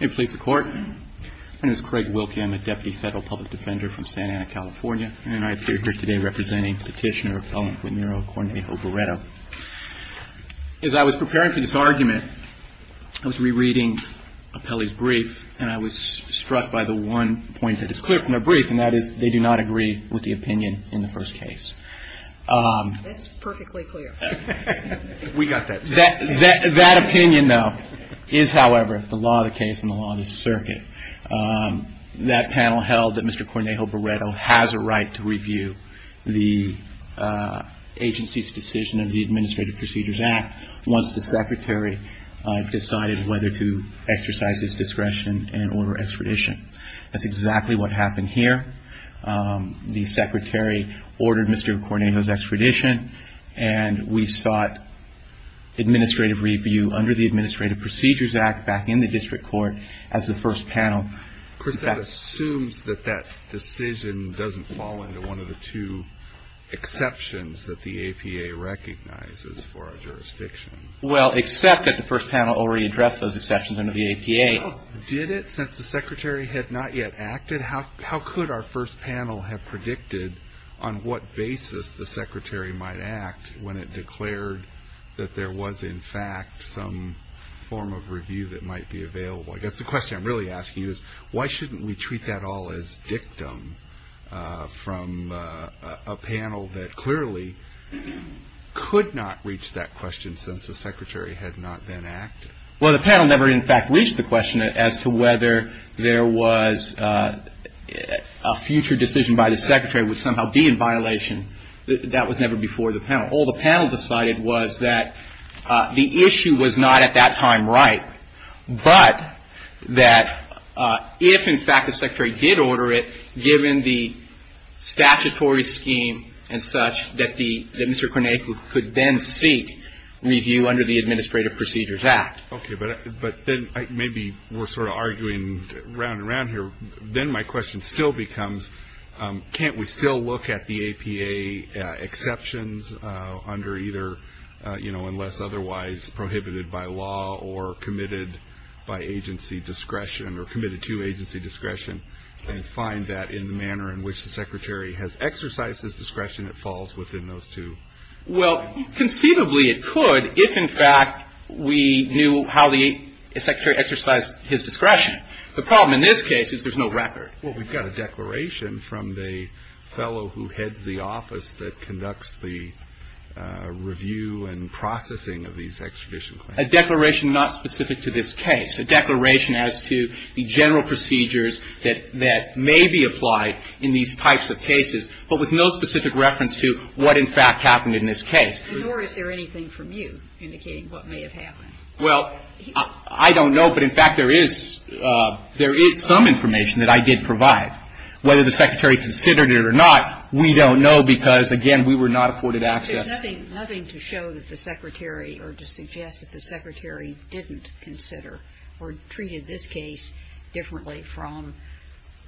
as I was preparing for this argument, I was rereading Apelli's brief, and I was struck by the one point that is clear from their brief, and that is, they do not agree with the opinion in the first case. That's perfectly clear. We got that. That opinion, though, is, however, the law of the case and the law of the circuit. That panel held that Mr. Cornejo-Barreto has a right to review the agency's decision of the Administrative Procedures Act once the secretary decided whether to exercise his discretion and order extradition. That's exactly what happened here. The secretary ordered Mr. Cornejo's extradition, and we sought administrative review under the Administrative Procedures Act back in the district court as the first panel. Of course, that assumes that that decision doesn't fall into one of the two exceptions that the APA recognizes for our jurisdiction. Well, except that the first panel already addressed those exceptions under the APA. Well, did it since the secretary had not yet acted? How could our first panel have predicted on what basis the secretary might act when it declared that there was, in fact, some form of review that might be available? I guess the question I'm really asking you is, why shouldn't we treat that all as dictum from a panel that clearly could not reach that question since the secretary had not then acted? Well, the panel never, in fact, reached the question as to whether there was a future decision by the secretary which somehow be in violation. That was never before the panel. All the panel decided was that the issue was not at that time right, but that if, in fact, the secretary did order it, given the statutory scheme and such, that Mr. Korniakou could then seek review under the Administrative Procedures Act. Okay, but then maybe we're sort of arguing round and round here. Then my question still becomes, can't we still look at the APA exceptions under either, you know, Well, conceivably it could if, in fact, we knew how the secretary exercised his discretion. The problem in this case is there's no record. Well, we've got a declaration from the fellow who heads the office that conducts the review and processing of these extradition claims. A declaration not specific to this case. A declaration as to the general procedures that may be applied in these types of cases, but with no specific reference to what, in fact, happened in this case. Nor is there anything from you indicating what may have happened. Well, I don't know. But, in fact, there is some information that I did provide. Whether the secretary considered it or not, we don't know because, again, we were not afforded access. Well, there's nothing to show that the secretary or to suggest that the secretary didn't consider or treated this case differently from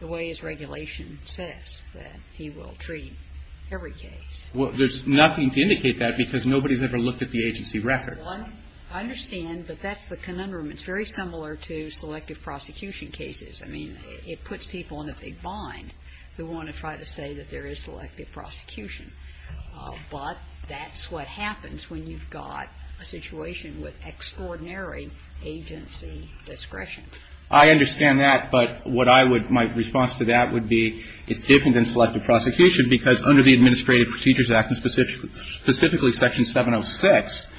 the way his regulation says that he will treat every case. Well, there's nothing to indicate that because nobody's ever looked at the agency record. Well, I understand, but that's the conundrum. It's very similar to selective prosecution cases. I mean, it puts people in a big bind who want to try to say that there is selective prosecution. But that's what happens when you've got a situation with extraordinary agency discretion. I understand that. But what I would my response to that would be it's different than selective prosecution because under the Administrative Procedures Act and specifically Section 706,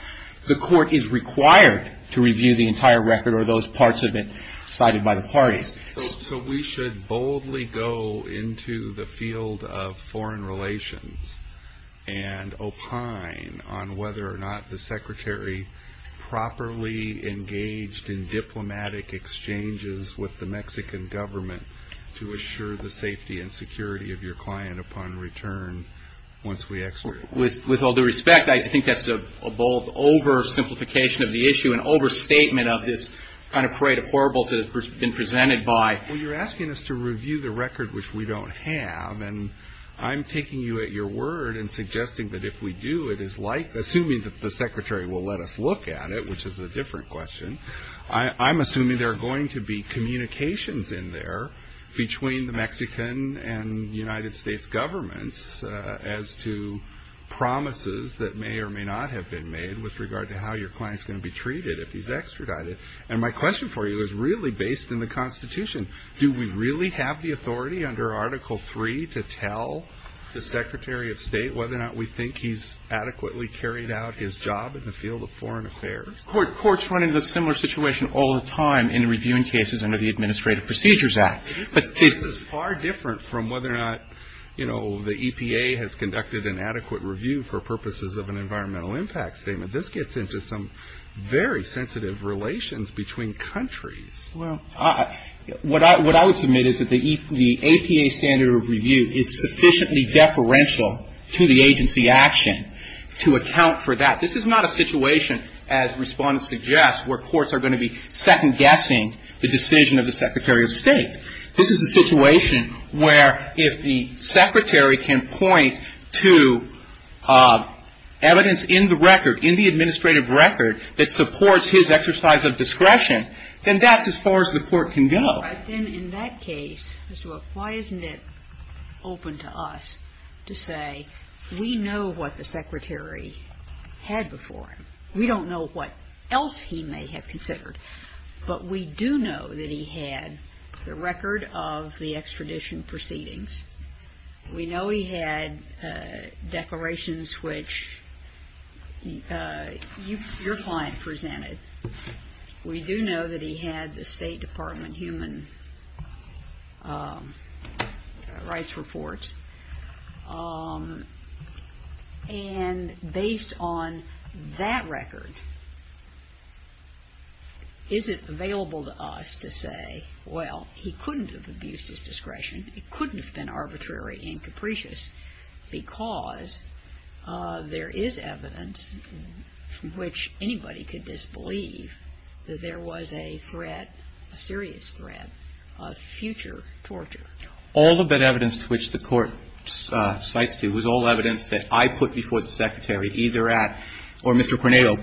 the court is required to review the entire record or those parts of it cited by the parties. So we should boldly go into the field of foreign relations and opine on whether or not the secretary properly engaged in diplomatic exchanges with the Mexican government to assure the safety and security of your client upon return once we execute? With all due respect, I think that's a bold oversimplification of the issue, an overstatement of this kind of parade of horribles that it's been presented by. Well, you're asking us to review the record, which we don't have. And I'm taking you at your word and suggesting that if we do, it is like assuming that the secretary will let us look at it, which is a different question. I'm assuming there are going to be communications in there between the Mexican and United States governments as to promises that may or may not have been made with regard to how your client's going to be treated if he's extradited. And my question for you is really based in the Constitution. Do we really have the authority under Article III to tell the secretary of state whether or not we think he's adequately carried out his job in the field of foreign affairs? Courts run into a similar situation all the time in reviewing cases under the Administrative Procedures Act. But this is far different from whether or not, you know, the EPA has conducted an adequate review for purposes of an environmental impact statement. This gets into some very sensitive relations between countries. Well, what I would submit is that the APA standard of review is sufficiently deferential to the agency action to account for that. This is not a situation, as Respondent suggests, where courts are going to be second-guessing the decision of the secretary of state. This is a situation where if the secretary can point to evidence in the record, in the administrative record that supports his exercise of discretion, then that's as far as the court can go. All right. Then in that case, Mr. Wilk, why isn't it open to us to say we know what the secretary had before him. We don't know what else he may have considered. But we do know that he had the record of the extradition proceedings. We know he had declarations which your client presented. We do know that he had the State Department human rights report. And based on that record, is it available to us to say, well, he couldn't have abused his discretion, he couldn't have been arbitrary and capricious because there is evidence from which anybody could disbelieve that there was a threat, a serious threat of future torture. All of that evidence to which the court cites to was all evidence that I put before the secretary either at, or Mr. Cornejo,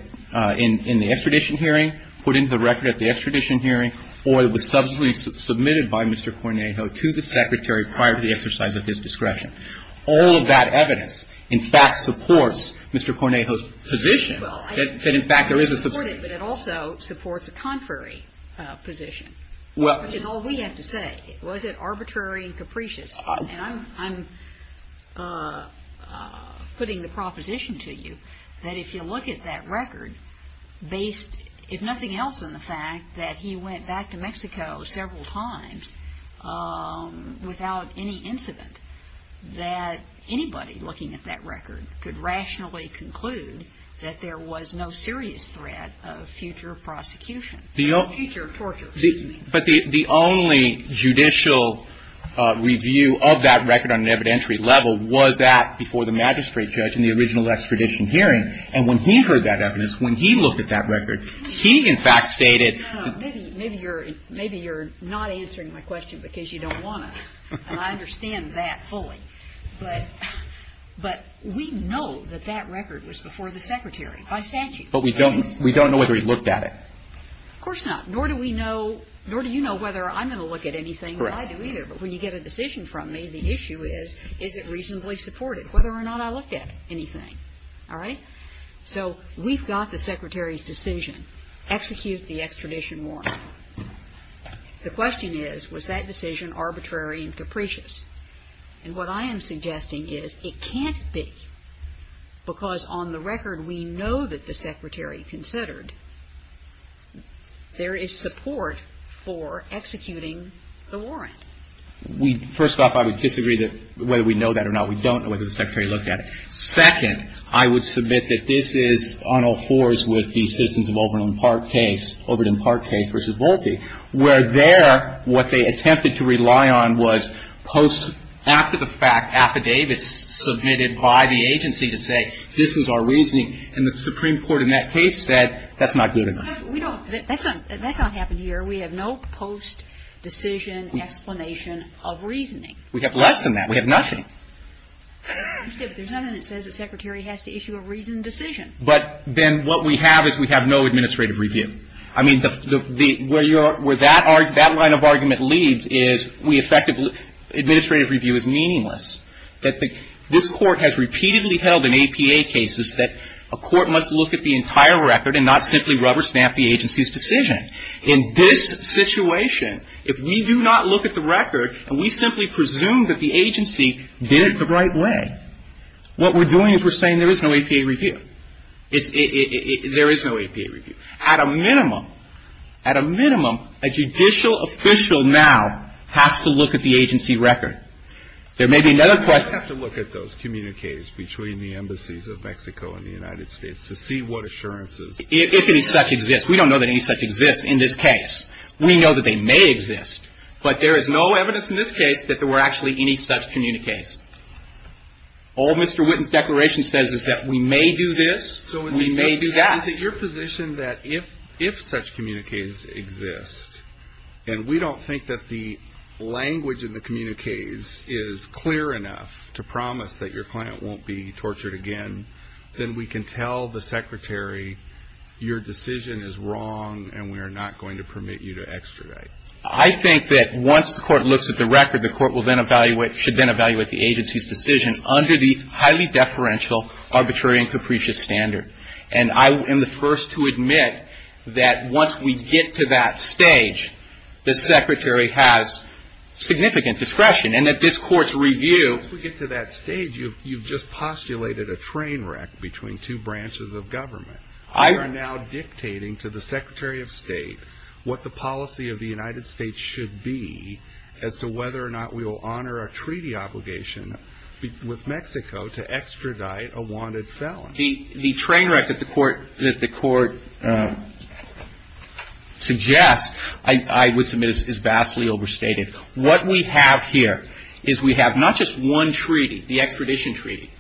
in the extradition hearing, put into the record at the extradition hearing, or it was subsequently submitted by Mr. Cornejo to the secretary prior to the exercise of his discretion. All of that evidence, in fact, supports Mr. Cornejo's position that, in fact, there is a substance. But it also supports a contrary position, which is all we have to say. Was it arbitrary and capricious? And I'm putting the proposition to you that if you look at that record based, if nothing else, on the fact that he went back to Mexico several times without any incident, that anybody looking at that record could rationally conclude that there was no serious threat of future prosecution, of future torture. But the only judicial review of that record on an evidentiary level was that before the magistrate judge in the original extradition hearing. And when he heard that evidence, when he looked at that record, he, in fact, stated that he was not looking at that record. Maybe you're not answering my question because you don't want to. And I understand that fully. But we know that that record was before the secretary by statute. But we don't know whether he looked at it. Of course not. Nor do we know, nor do you know whether I'm going to look at anything that I do either. But when you get a decision from me, the issue is, is it reasonably supported, whether or not I looked at anything. All right? So we've got the secretary's decision. Execute the extradition warrant. The question is, was that decision arbitrary and capricious? And what I am suggesting is it can't be, because on the record we know that the secretary considered there is support for executing the warrant. First off, I would disagree that whether we know that or not. We don't know whether the secretary looked at it. Second, I would submit that this is on a horse with the Citizens of Overton Park case, Overton Park case versus Volpe, where there what they attempted to rely on was post after the fact affidavits submitted by the agency to say this was our reasoning. And the Supreme Court in that case said that's not good enough. We don't, that's not happened here. We have no post decision explanation of reasoning. We have less than that. We have nothing. There's nothing that says the secretary has to issue a reasoned decision. But then what we have is we have no administrative review. I mean, where that line of argument leads is we effectively, administrative review is meaningless. And so we have to look at the entire record and not simply rubber snap the agency's decision. In this situation, if we do not look at the record and we simply presume that the agency did it the right way, what we're doing is we're saying there is no APA review. There is no APA review. At a minimum, at a minimum, a judicial official now has to look at the agency record. There may be another question. We have to look at those communiques between the embassies of Mexico and the United States to see what assurances. If any such exist. We don't know that any such exist in this case. We know that they may exist. But there is no evidence in this case that there were actually any such communiques. All Mr. Witten's declaration says is that we may do this, we may do that. So is it your position that if such communiques exist, and we don't think that the language in the communiques is clear enough to promise that your client won't be tortured again, then we can tell the secretary your decision is wrong and we are not going to permit you to extradite? I think that once the court looks at the record, the court will then evaluate, should then evaluate the agency's decision under the highly deferential arbitrary and capricious standard. And I am the first to admit that once we get to that stage, the secretary has significant discretion. And at this court's review... Once we get to that stage, you've just postulated a train wreck between two branches of government. I... You are now dictating to the secretary of state what the policy of the United States should be as to whether or not we will honor a treaty obligation with Mexico to extradite a wanted felon. The train wreck that the court suggests, I would submit, is vastly overstated. What we have here is we have not just one treaty, the extradition treaty,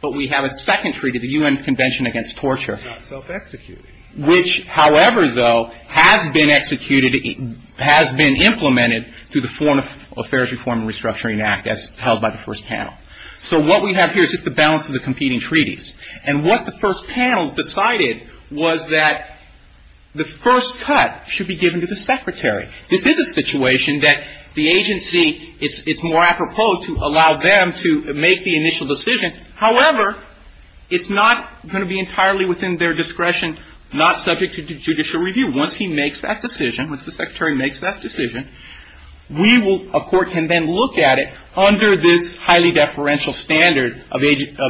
but we have a second treaty, the U.N. Convention Against Torture. Not self-executed. Which, however, though, has been executed, has been implemented through the Foreign Affairs Reform and Restructuring Act as held by the first panel. So what we have here is just the balance of the competing treaties. And what the first panel decided was that the first cut should be given to the secretary. This is a situation that the agency, it's more apropos to allow them to make the initial decision. However, it's not going to be entirely within their discretion, not subject to judicial review. Once he makes that decision, once the secretary makes that decision, we will, a court can then look at it under this highly deferential standard of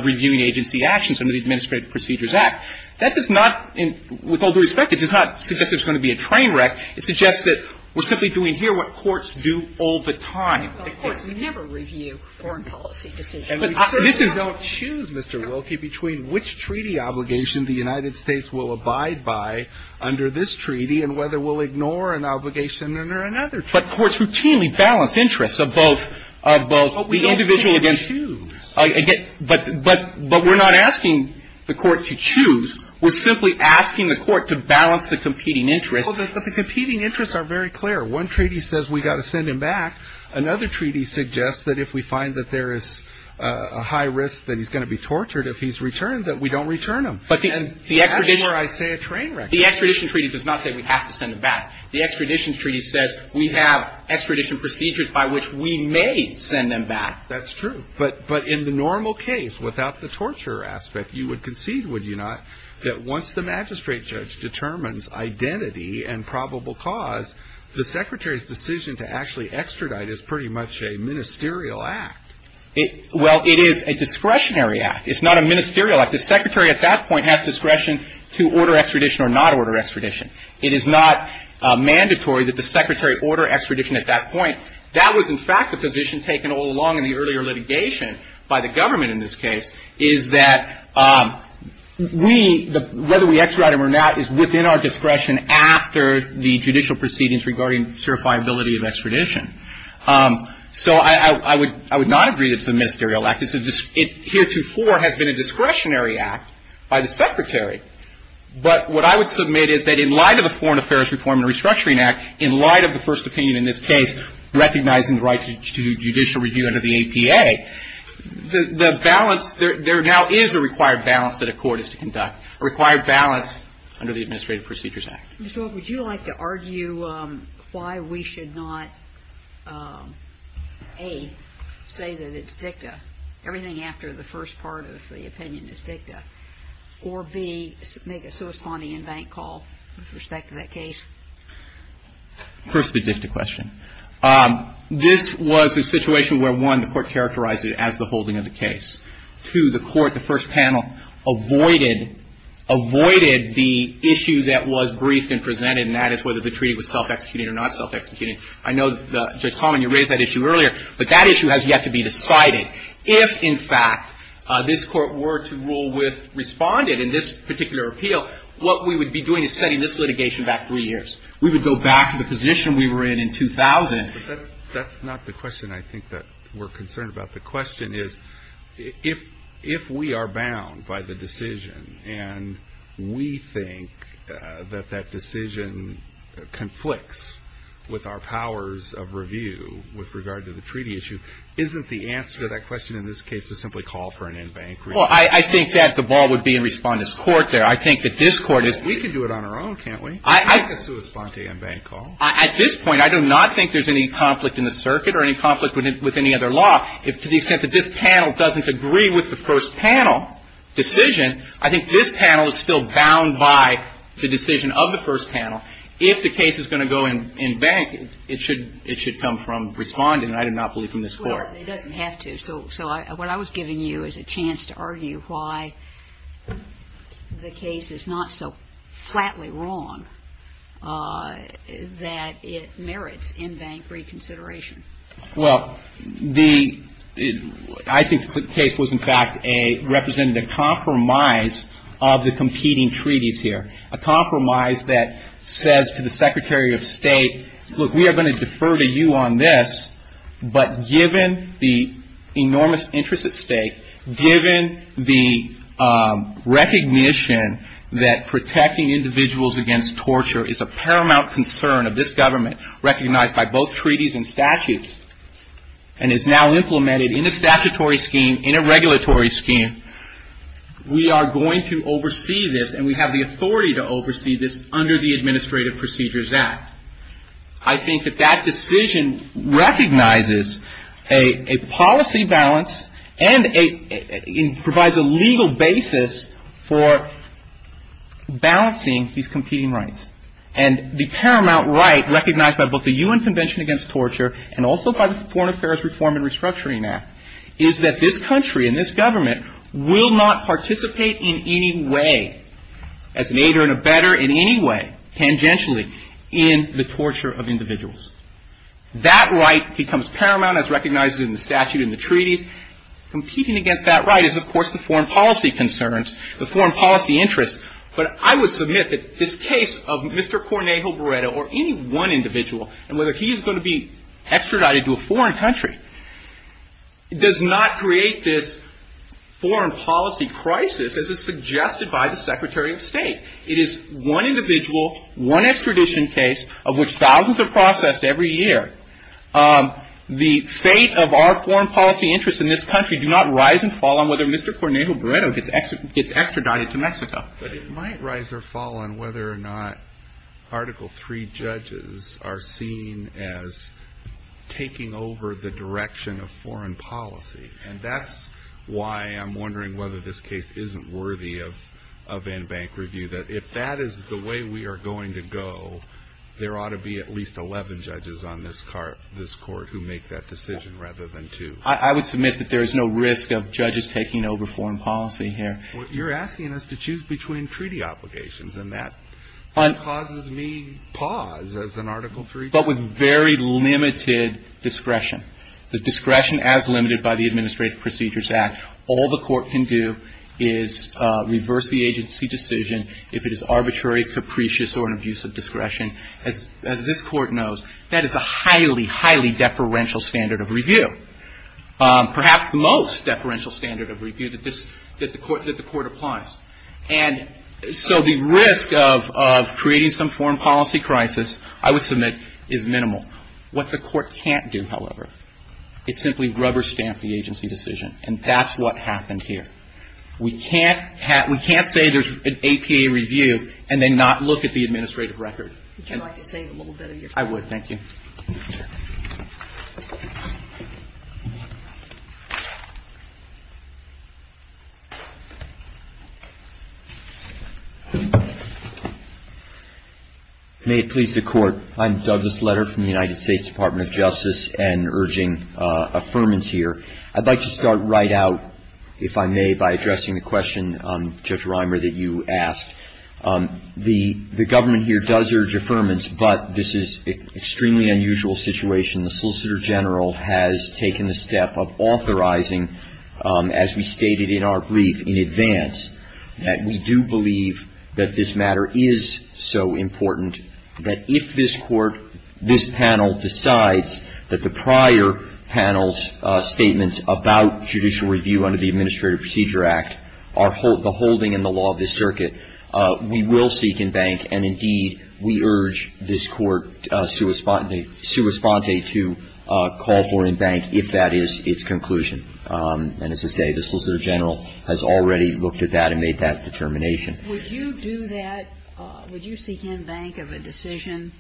reviewing agency actions under the Administrative Procedures Act. That does not, with all due respect, it does not suggest there's going to be a train wreck. It suggests that we're simply doing here what courts do all the time. The courts never review foreign policy decisions. But this is not choose, Mr. Wilkie, between which treaty obligation the United States will abide by under this treaty and whether we'll ignore an obligation under another treaty. But courts routinely balance interests of both, of both the individual against you. But we're not asking the court to choose. We're simply asking the court to balance the competing interests. But the competing interests are very clear. One treaty says we've got to send him back. Another treaty suggests that if we find that there is a high risk that he's going to be tortured if he's returned, that we don't return him. And that's where I say a train wreck is. The extradition treaty does not say we have to send him back. The extradition treaty says we have extradition procedures by which we may send him back. That's true. But in the normal case, without the torture aspect, you would concede, would you not, that once the magistrate judge determines identity and probable cause, the Secretary's decision to actually extradite is pretty much a ministerial act. Well, it is a discretionary act. It's not a ministerial act. The Secretary at that point has discretion to order extradition or not order extradition. It is not mandatory that the Secretary order extradition at that point. That was, in fact, a position taken all along in the earlier litigation by the government in this case, is that we, whether we extradite him or not, is within our discretion after the judicial proceedings regarding certifiability of extradition. So I would not agree that it's a ministerial act. It heretofore has been a discretionary act by the Secretary. But what I would submit is that in light of the Foreign Affairs Reform and Restructuring Act, in light of the first opinion in this case, recognizing the right to judicial review under the APA, the balance, there now is a required balance that a court is to conduct, a required balance under the Administrative Procedures Act. Ms. Wilk, would you like to argue why we should not, A, say that it's dicta, everything after the first part of the opinion is dicta, or, B, make a corresponding in-bank call with respect to that case? First the dicta question. This was a situation where, one, the court characterized it as the holding of the case. Two, the court, the first panel, avoided the issue that was briefed and presented, and that is whether the treaty was self-executing or not self-executing. I know, Judge Common, you raised that issue earlier, but that issue has yet to be decided. If, in fact, this court were to rule with respondent in this particular appeal, what we would be doing is setting this litigation back three years. We would go back to the position we were in in 2000. But that's not the question I think that we're concerned about. The question is, if we are bound by the decision and we think that that decision conflicts with our powers of review with regard to the treaty issue, isn't the answer to that question in this case to simply call for an in-bank review? Well, I think that the ball would be in Respondent's court there. I think that this Court is – We can do it on our own, can't we? Make a corresponding in-bank call. At this point, I do not think there's any conflict in the circuit or any conflict with any other law. To the extent that this panel doesn't agree with the first panel decision, I think this panel is still bound by the decision of the first panel. If the case is going to go in-bank, it should come from Respondent, and I do not believe in this Court. It doesn't have to. So what I was giving you is a chance to argue why the case is not so flatly wrong that it merits in-bank reconsideration. Well, the – I think the case was in fact a – represented a compromise of the competing treaties here, a compromise that says to the Secretary of State, look, we are going to defer to you on this, but given the enormous interest at stake, given the recognition that protecting individuals against torture is a paramount concern of this government recognized by both treaties and statutes and is now implemented in a statutory scheme, in a regulatory scheme, we are going to oversee this and we have the authority to oversee this under the Administrative Procedures Act. I think that that decision recognizes a policy balance and a – it provides a legal basis for balancing these competing rights. And the paramount right recognized by both the U.N. Convention Against Torture and also by the Foreign Affairs Reform and Restructuring Act is that this country and this government will not participate in any way as an aider and a better in any way tangentially in the torture of individuals. That right becomes paramount as recognized in the statute and the treaties. Competing against that right is, of course, the foreign policy concerns, the foreign policy interests. But I would submit that this case of Mr. Cornejo Barretta or any one individual and whether he is going to be extradited to a foreign country does not create this foreign policy crisis as is suggested by the Secretary of State. It is one individual, one extradition case of which thousands are processed every year. The fate of our foreign policy interests in this country do not rise and fall on whether Mr. Cornejo Barretta gets extradited to Mexico. But it might rise or fall on whether or not Article III judges are seen as taking over the direction of foreign policy. And that's why I'm wondering whether this case isn't worthy of in-bank review. That if that is the way we are going to go, there ought to be at least 11 judges on this court who make that decision rather than two. I would submit that there is no risk of judges taking over foreign policy here. Well, you're asking us to choose between treaty obligations. And that causes me pause as an Article III judge. But with very limited discretion, the discretion as limited by the Administrative Procedures Act, all the court can do is reverse the agency decision if it is arbitrary, capricious, or an abuse of discretion. As this court knows, that is a highly, highly deferential standard of review. Perhaps the most deferential standard of review that the court applies. And so the risk of creating some foreign policy crisis, I would submit, is minimal. What the court can't do, however, is simply rubber stamp the agency decision. And that's what happened here. We can't say there's an APA review and then not look at the administrative record. I would like to save a little bit of your time. I would. Thank you. May it please the Court. I'm Douglas Letter from the United States Department of Justice and urging affirmance here. I'd like to start right out, if I may, by addressing the question, Judge Reimer, that you asked. The government here does urge affirmance, but this is an extremely unusual situation. The Solicitor General has taken a step of authorizing, as we stated in our brief in advance, that we do believe that this matter is so important that if this court, this panel, decides that the prior panel's statements about judicial review under the Administrative Procedure Act are the holding and the law of this circuit, we will seek in bank and, indeed, we urge this court sua sponte to call for in bank if that is its conclusion. And as I say, the Solicitor General has already looked at that and made that determination. Would you do that? Would you seek in bank of a decision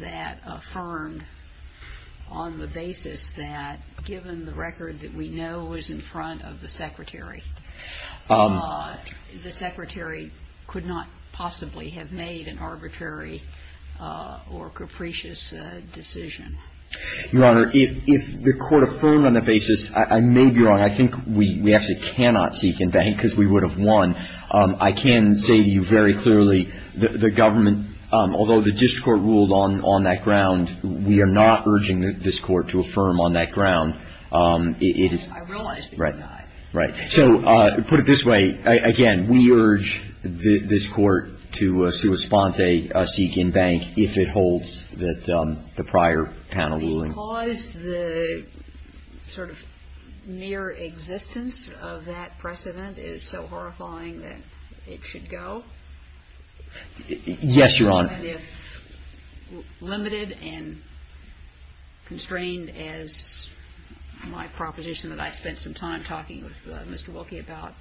that affirmed on the basis that, given the record that we know was in front of the Secretary, the Secretary could not possibly have made an arbitrary or capricious decision? Your Honor, if the Court affirmed on that basis, I may be wrong. I think we actually cannot seek in bank because we would have won. I can say to you very clearly the government, although the district court ruled on that ground, we are not urging this court to affirm on that ground. I realize that you're not. Right. So put it this way, again, we urge this court to sua sponte, seek in bank if it holds the prior panel ruling. Because the sort of mere existence of that precedent is so horrifying that it should go? Yes, Your Honor. And if limited and constrained as my proposition that I spent some time talking with Mr. Wilkie about,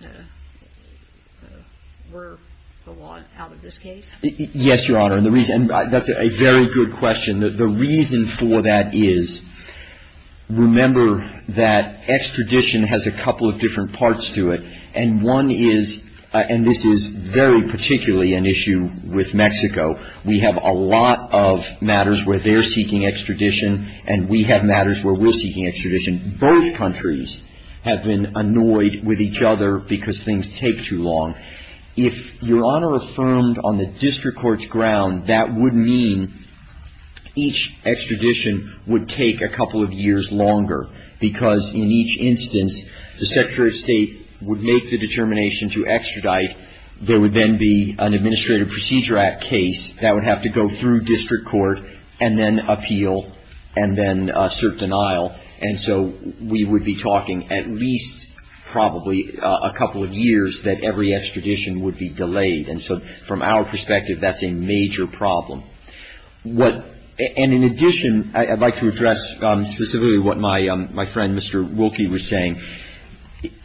were the law out of this case? Yes, Your Honor. And the reason that's a very good question. The reason for that is, remember that extradition has a couple of different parts to it. And one is, and this is very particularly an issue with Mexico, we have a lot of matters where they're seeking extradition, and we have matters where we're seeking extradition. Both countries have been annoyed with each other because things take too long. If Your Honor affirmed on the district court's ground, that would mean each extradition would take a couple of years longer. Because in each instance, the Secretary of State would make the determination to extradite. There would then be an Administrative Procedure Act case that would have to go through district court and then appeal and then assert denial. And so we would be talking at least probably a couple of years that every extradition would be delayed. And so from our perspective, that's a major problem. And in addition, I'd like to address specifically what my friend, Mr. Wilkie, was saying.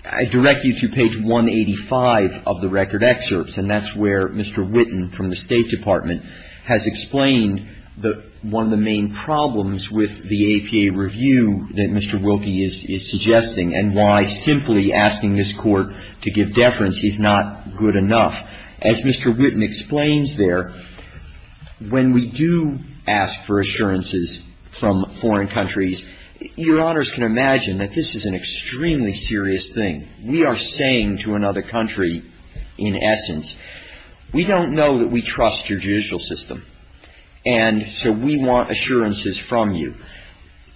I direct you to page 185 of the record excerpts, and that's where Mr. Witten from the State Department has explained one of the main problems with the APA review that Mr. Wilkie is suggesting, and why simply asking this Court to give deference is not good enough. As Mr. Witten explains there, when we do ask for assurances from foreign countries, Your Honors can imagine that this is an extremely serious thing. We are saying to another country, in essence, we don't know that we trust your judicial system, and so we want assurances from you.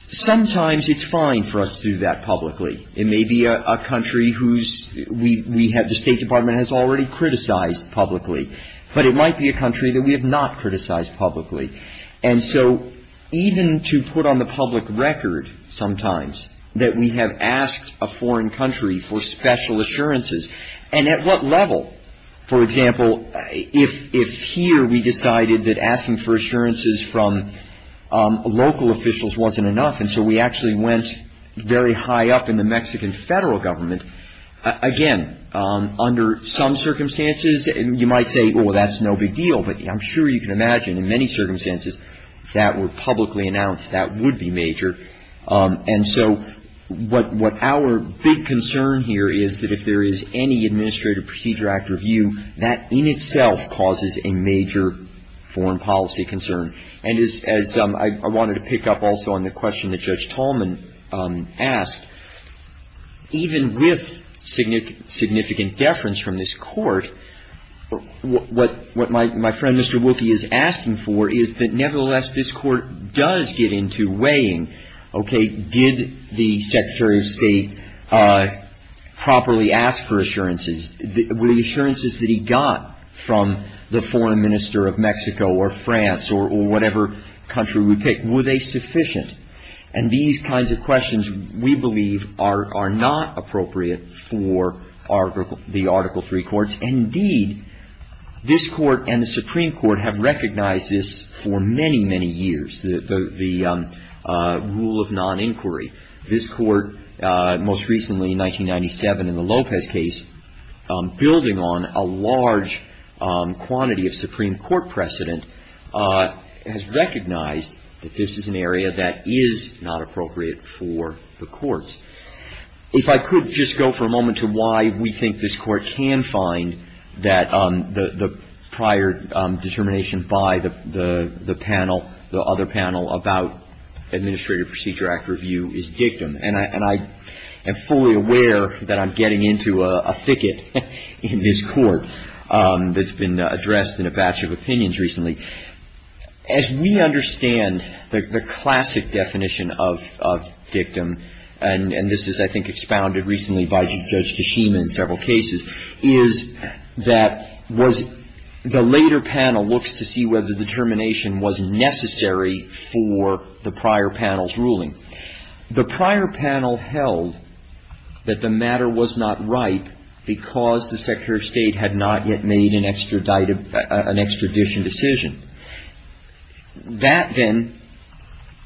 Sometimes it's fine for us to do that publicly. It may be a country whose we have the State Department has already criticized publicly, but it might be a country that we have not criticized publicly. And so even to put on the public record sometimes that we have asked a foreign country for special assurances, and at what level, for example, if here we decided that asking for assurances from local officials wasn't enough, and so we actually went very high up in the Mexican federal government. Again, under some circumstances you might say, well, that's no big deal, but I'm sure you can imagine in many circumstances that were publicly announced that would be major. And so what our big concern here is that if there is any Administrative Procedure Act review, that in itself causes a major foreign policy concern. And as I wanted to pick up also on the question that Judge Tallman asked, even with significant deference from this Court, what my friend Mr. Wilkie is asking for is that nevertheless this Court does get into weighing, okay, did the Secretary of State properly ask for assurances? Were the assurances that he got from the foreign minister of Mexico or France or whatever country we pick, were they sufficient? And these kinds of questions we believe are not appropriate for the Article III courts. Indeed, this Court and the Supreme Court have recognized this for many, many years, the rule of non-inquiry. This Court, most recently in 1997 in the Lopez case, building on a large quantity of Supreme Court precedent, has recognized that this is an area that is not appropriate for the courts. If I could just go for a moment to why we think this Court can find that the prior determination by the panel, the other panel about Administrative Procedure Act review is dictum. And I am fully aware that I'm getting into a thicket in this Court that's been addressed in a batch of opinions recently. As we understand the classic definition of dictum, and this is I think expounded recently by Judge Tashima in several cases, is that was the later panel looks to see whether the determination was necessary for the prior panel's ruling. The prior panel held that the matter was not right because the Secretary of State had not yet made an extradition decision. That then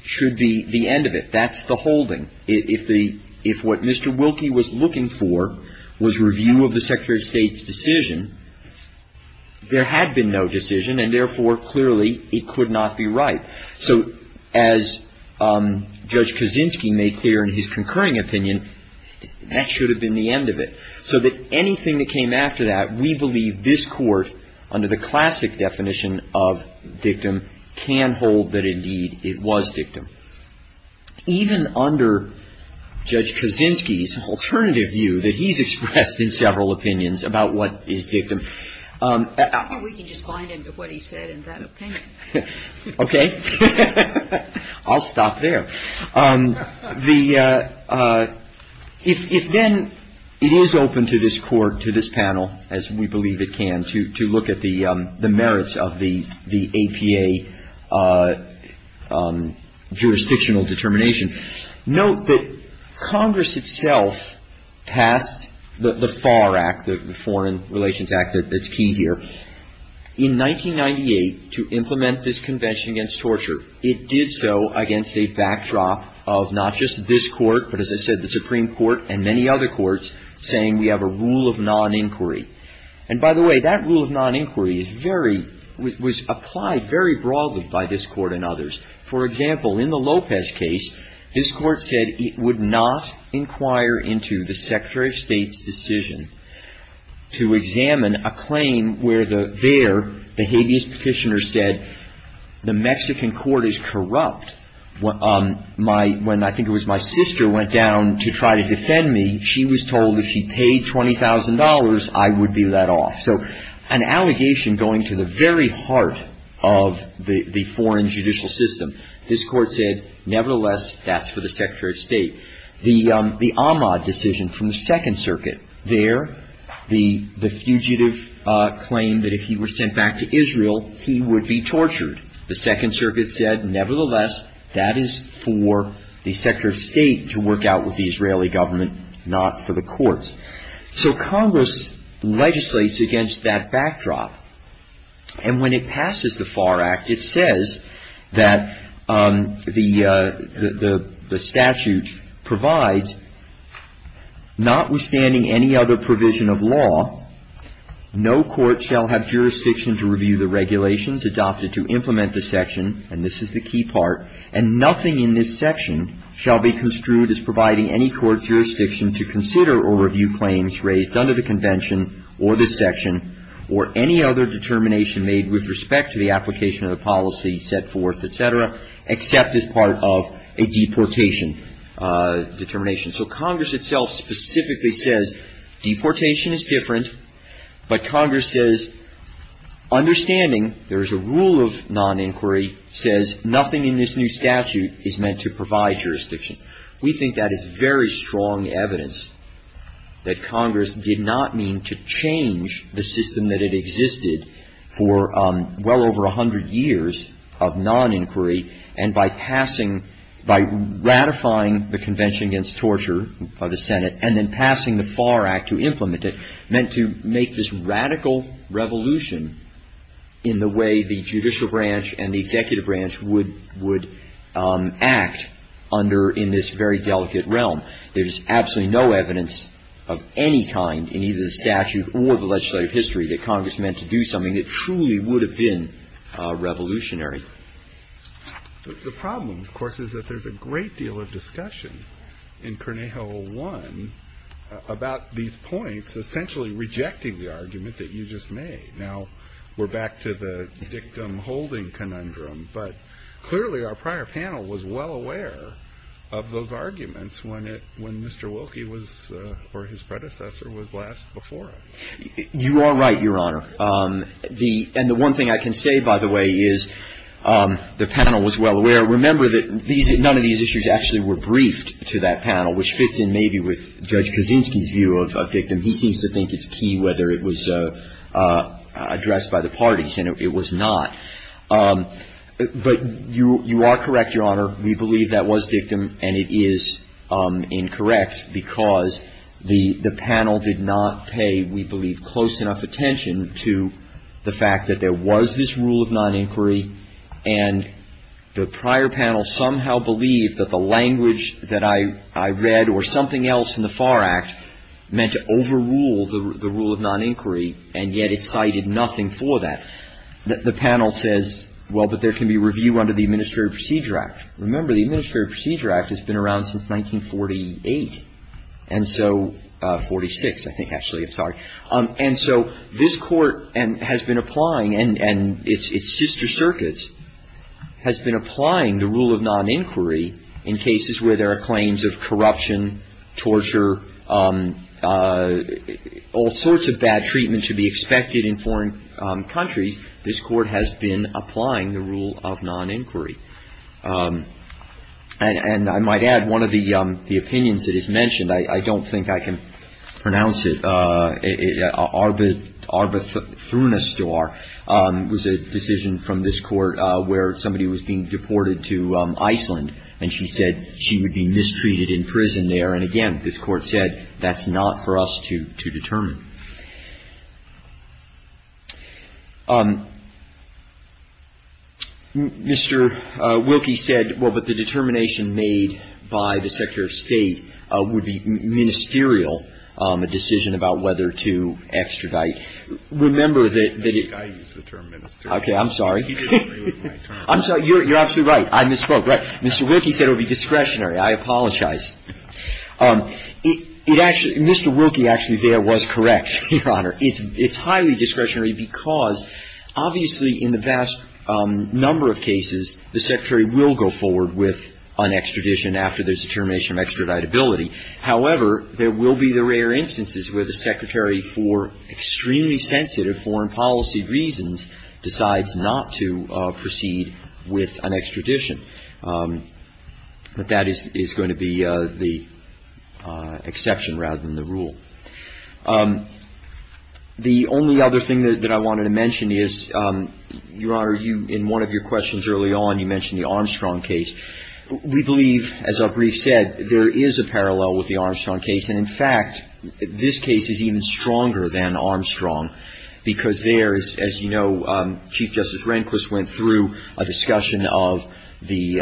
should be the end of it. That's the holding. If what Mr. Wilkie was looking for was review of the Secretary of State's decision, there had been no decision, and therefore, clearly, it could not be right. So as Judge Kaczynski made clear in his concurring opinion, that should have been the end of it. So that anything that came after that, we believe this Court, under the classic definition of dictum, can hold that indeed it was dictum. Even under Judge Kaczynski's alternative view that he's expressed in several opinions about what is dictum. We can just bind him to what he said in that opinion. Okay. I'll stop there. If then it is open to this Court, to this panel, as we believe it can, to look at the merits of the APA jurisdictional determination, note that Congress itself passed the FAR Act, the Foreign Relations Act that's key here. In 1998, to implement this Convention Against Torture, it did so against a backdrop of not just this Court, but as I said, the Supreme Court and many other courts, saying we have a rule of non-inquiry. And by the way, that rule of non-inquiry is very, was applied very broadly by this Court and others. For example, in the Lopez case, this Court said it would not inquire into the Secretary of State's decision to examine a claim where there the habeas petitioner said the Mexican court is corrupt. When I think it was my sister went down to try to defend me, she was told if she paid $20,000, I would be let off. So an allegation going to the very heart of the foreign judicial system. This Court said, nevertheless, that's for the Secretary of State. The Ahmad decision from the Second Circuit, there the fugitive claimed that if he were sent back to Israel, he would be tortured. The Second Circuit said, nevertheless, that is for the Secretary of State to work out with the Israeli government, not for the courts. So Congress legislates against that backdrop. And when it passes the FAR Act, it says that the statute provides, notwithstanding any other provision of law, no court shall have jurisdiction to review the regulations adopted to implement the section, and this is the key part, and nothing in this section shall be construed as providing any court jurisdiction to consider or review claims raised under the convention or this section or any other determination made with respect to the application of the policy set forth, et cetera, except as part of a deportation determination. So Congress itself specifically says deportation is different, but Congress says, understanding there is a rule of non-inquiry, says nothing in this new statute is meant to provide jurisdiction. We think that is very strong evidence that Congress did not mean to change the system that it existed for well over 100 years of non-inquiry, and by passing, by ratifying the Convention Against Torture by the Senate, and then passing the FAR Act to implement it, meant to make this radical revolution in the way the judicial branch and the executive branch would act under, in this very delicate realm. There's absolutely no evidence of any kind in either the statute or the legislative history that Congress meant to do something that truly would have been revolutionary. The problem, of course, is that there's a great deal of discussion in Cornejo 01 about these points essentially rejecting the argument that you just made. Now, we're back to the victim-holding conundrum, but clearly our prior panel was well aware of those arguments when it — when Mr. Wilkie was — or his predecessor was last before us. You are right, Your Honor. The — and the one thing I can say, by the way, is the panel was well aware. Remember that these — none of these issues actually were briefed to that panel, which fits in maybe with Judge Kaczynski's view of a victim. He seems to think it's key whether it was addressed by the parties, and it was not. But you are correct, Your Honor. We believe that was victim, and it is incorrect because the panel did not pay, we believe, close enough attention to the fact that there was this rule of non-inquiry, and the prior panel somehow believed that the language that I read or something else in the FAR Act meant to overrule the rule of non-inquiry, and yet it cited nothing for that. The panel says, well, but there can be review under the Administrative Procedure Act. Remember, the Administrative Procedure Act has been around since 1948, and so — 46, I think, actually. I'm sorry. And so this Court has been applying, and its sister circuits has been applying the rule of non-inquiry in cases where there are claims of corruption, torture, all sorts of bad treatment to be expected in foreign countries. This Court has been applying the rule of non-inquiry. And I might add, one of the opinions that is mentioned, I don't think I can pronounce it, Arbathurna Star was a decision from this Court where somebody was being deported to Iceland, and she said she would be mistreated in prison there. And again, this Court said, that's not for us to determine. Mr. Wilkie said, well, but the determination made by the Secretary of State would be ministerial, a decision about whether to extradite. Remember that it — I think I used the term ministerial. Okay. I'm sorry. I'm sorry. You're absolutely right. I misspoke. Right. Mr. Wilkie said it would be discretionary. I apologize. It actually — Mr. Wilkie actually there was correct, Your Honor. It's highly discretionary because, obviously, in the vast number of cases, the Secretary will go forward with an extradition after there's a determination of extraditability. However, there will be the rare instances where the Secretary, for extremely sensitive foreign policy reasons, decides not to proceed with an extradition. But that is going to be the exception rather than the rule. The only other thing that I wanted to mention is, Your Honor, you — in one of your questions early on, you mentioned the Armstrong case. We believe, as our brief said, there is a parallel with the Armstrong case. And, in fact, this case is even stronger than Armstrong because there is, as you know, Chief Justice Rehnquist went through a discussion of the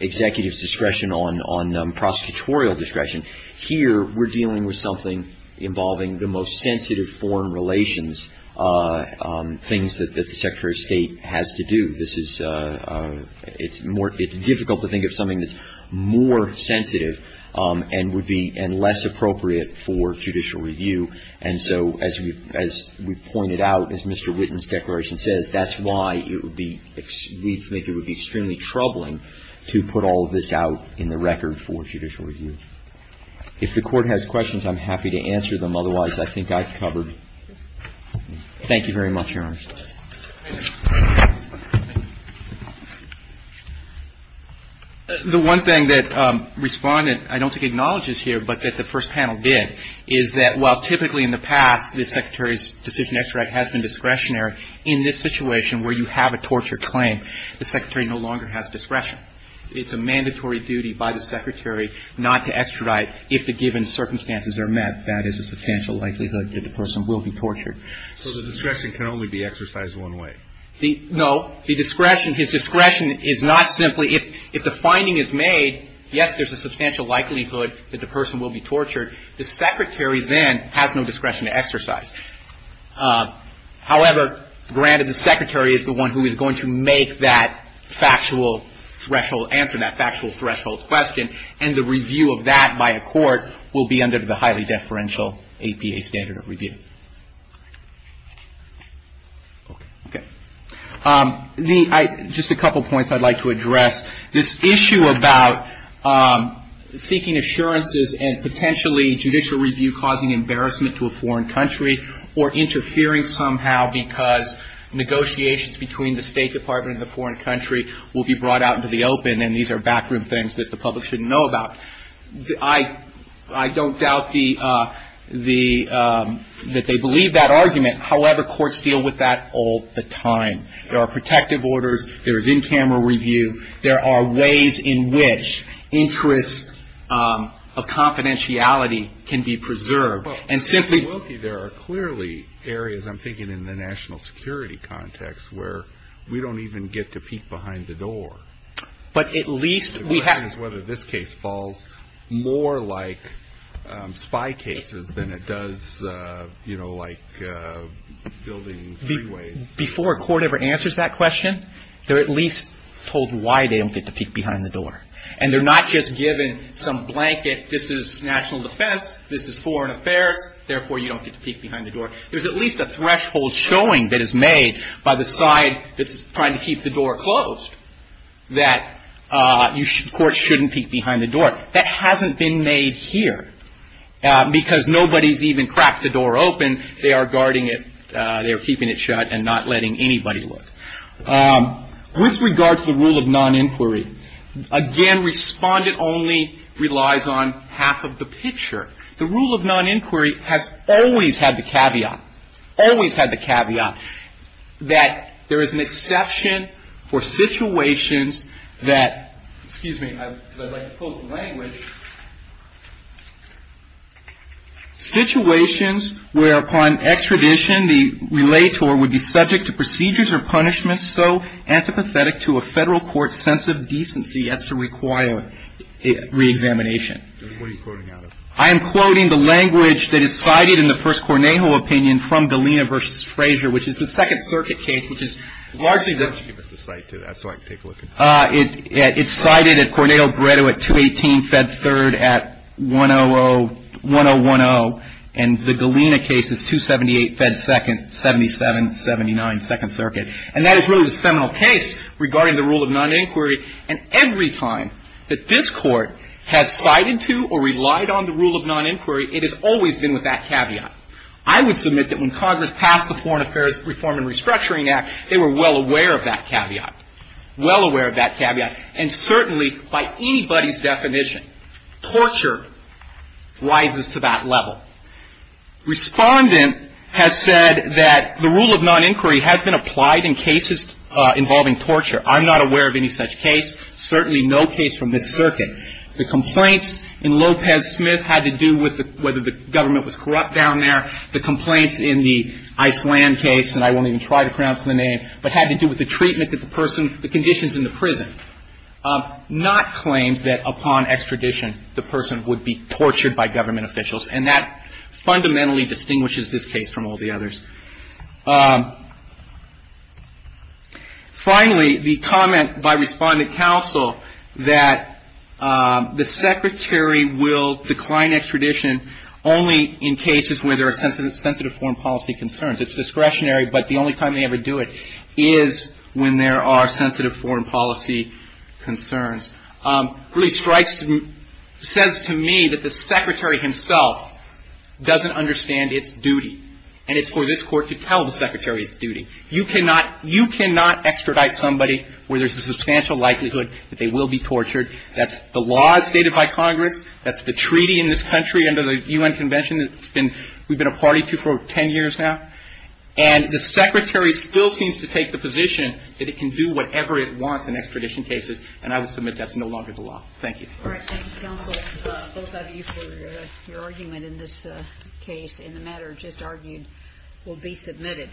executive's discretion on prosecutorial discretion. Here we're dealing with something involving the most sensitive foreign relations, things that the Secretary of State has to do. This is — it's more — it's difficult to think of something that's more sensitive and would be — and less appropriate for judicial review. And so, as we — as we pointed out, as Mr. Whitten's declaration says, that's why it would be — we think it would be extremely troubling to put all of this out in the record for judicial review. If the Court has questions, I'm happy to answer them. Otherwise, I think I've covered — thank you very much, Your Honor. Thank you. The one thing that Respondent, I don't think, acknowledges here, but that the first panel did, is that while typically in the past the Secretary's decision to extradite has been discretionary, in this situation where you have a torture claim, the Secretary no longer has discretion. It's a mandatory duty by the Secretary not to extradite if the given circumstances are met. So the discretion can only be exercised one way. No. The discretion — his discretion is not simply — if the finding is made, yes, there's a substantial likelihood that the person will be tortured. The Secretary then has no discretion to exercise. However, granted, the Secretary is the one who is going to make that factual threshold answer, that factual threshold question, and the review of that by a court will be under the highly deferential APA standard of review. Okay. Okay. The — just a couple points I'd like to address. This issue about seeking assurances and potentially judicial review causing embarrassment to a foreign country or interfering somehow because negotiations between the State Department and the foreign country will be brought out into the open, and these are backroom things that the public shouldn't know about. I don't doubt the — that they believe that argument. However, courts deal with that all the time. There are protective orders. There is in-camera review. There are ways in which interests of confidentiality can be preserved. And simply — Well, Mr. Wilkie, there are clearly areas, I'm thinking in the national security context, where we don't even get to peek behind the door. But at least we have — My question is whether this case falls more like spy cases than it does, you know, like building freeways. Before a court ever answers that question, they're at least told why they don't get to peek behind the door. And they're not just given some blanket, this is national defense, this is foreign affairs, therefore you don't get to peek behind the door. There's at least a threshold showing that is made by the side that's trying to keep the door closed, that courts shouldn't peek behind the door. That hasn't been made here because nobody's even cracked the door open. They are guarding it. They are keeping it shut and not letting anybody look. With regard to the rule of non-inquiry, again, Respondent only relies on half of the picture. The rule of non-inquiry has always had the caveat, always had the caveat, that there is an exception for situations that — excuse me, because I'd like to pull up the language. Situations where, upon extradition, the relator would be subject to procedures or punishments so antipathetic to a federal court's sense of decency as to require a reexamination. I am quoting the language that is cited in the first Cornejo opinion from Galena v. Frazier, which is the Second Circuit case, which is largely the — Give us the site, too, so I can take a look at it. It's cited at Cornejo-Breda at 218 Fed 3rd at 100 — 1010. And the Galena case is 278 Fed 2nd, 7779 Second Circuit. And that is really the seminal case regarding the rule of non-inquiry. And every time that this Court has cited to or relied on the rule of non-inquiry, it has always been with that caveat. I would submit that when Congress passed the Foreign Affairs Reform and Restructuring Act, they were well aware of that caveat. Well aware of that caveat. And certainly, by anybody's definition, torture rises to that level. Respondent has said that the rule of non-inquiry has been applied in cases involving torture. I'm not aware of any such case, certainly no case from this circuit. The complaints in Lopez-Smith had to do with whether the government was corrupt down there. The complaints in the Iceland case, and I won't even try to pronounce the name, but had to do with the treatment that the person — the conditions in the prison, not claims that upon extradition, the person would be tortured by government officials. And that fundamentally distinguishes this case from all the others. Finally, the comment by Respondent Counsel that the Secretary will decline extradition only in cases where there are sensitive foreign policy concerns. It's discretionary, but the only time they ever do it is when there are sensitive foreign policy concerns. Really strikes — says to me that the Secretary himself doesn't understand its duty. And it's for this Court to tell the Secretary its duty. You cannot — you cannot extradite somebody where there's a substantial likelihood that they will be tortured. That's the law as stated by Congress. That's the treaty in this country under the U.N. Convention that's been — we've been a party to for 10 years now. And the Secretary still seems to take the position that it can do whatever it wants in extradition cases. And I would submit that's no longer the law. Thank you. All right. Thank you, Counsel, both of you, for your argument in this case. And the matter just argued will be submitted.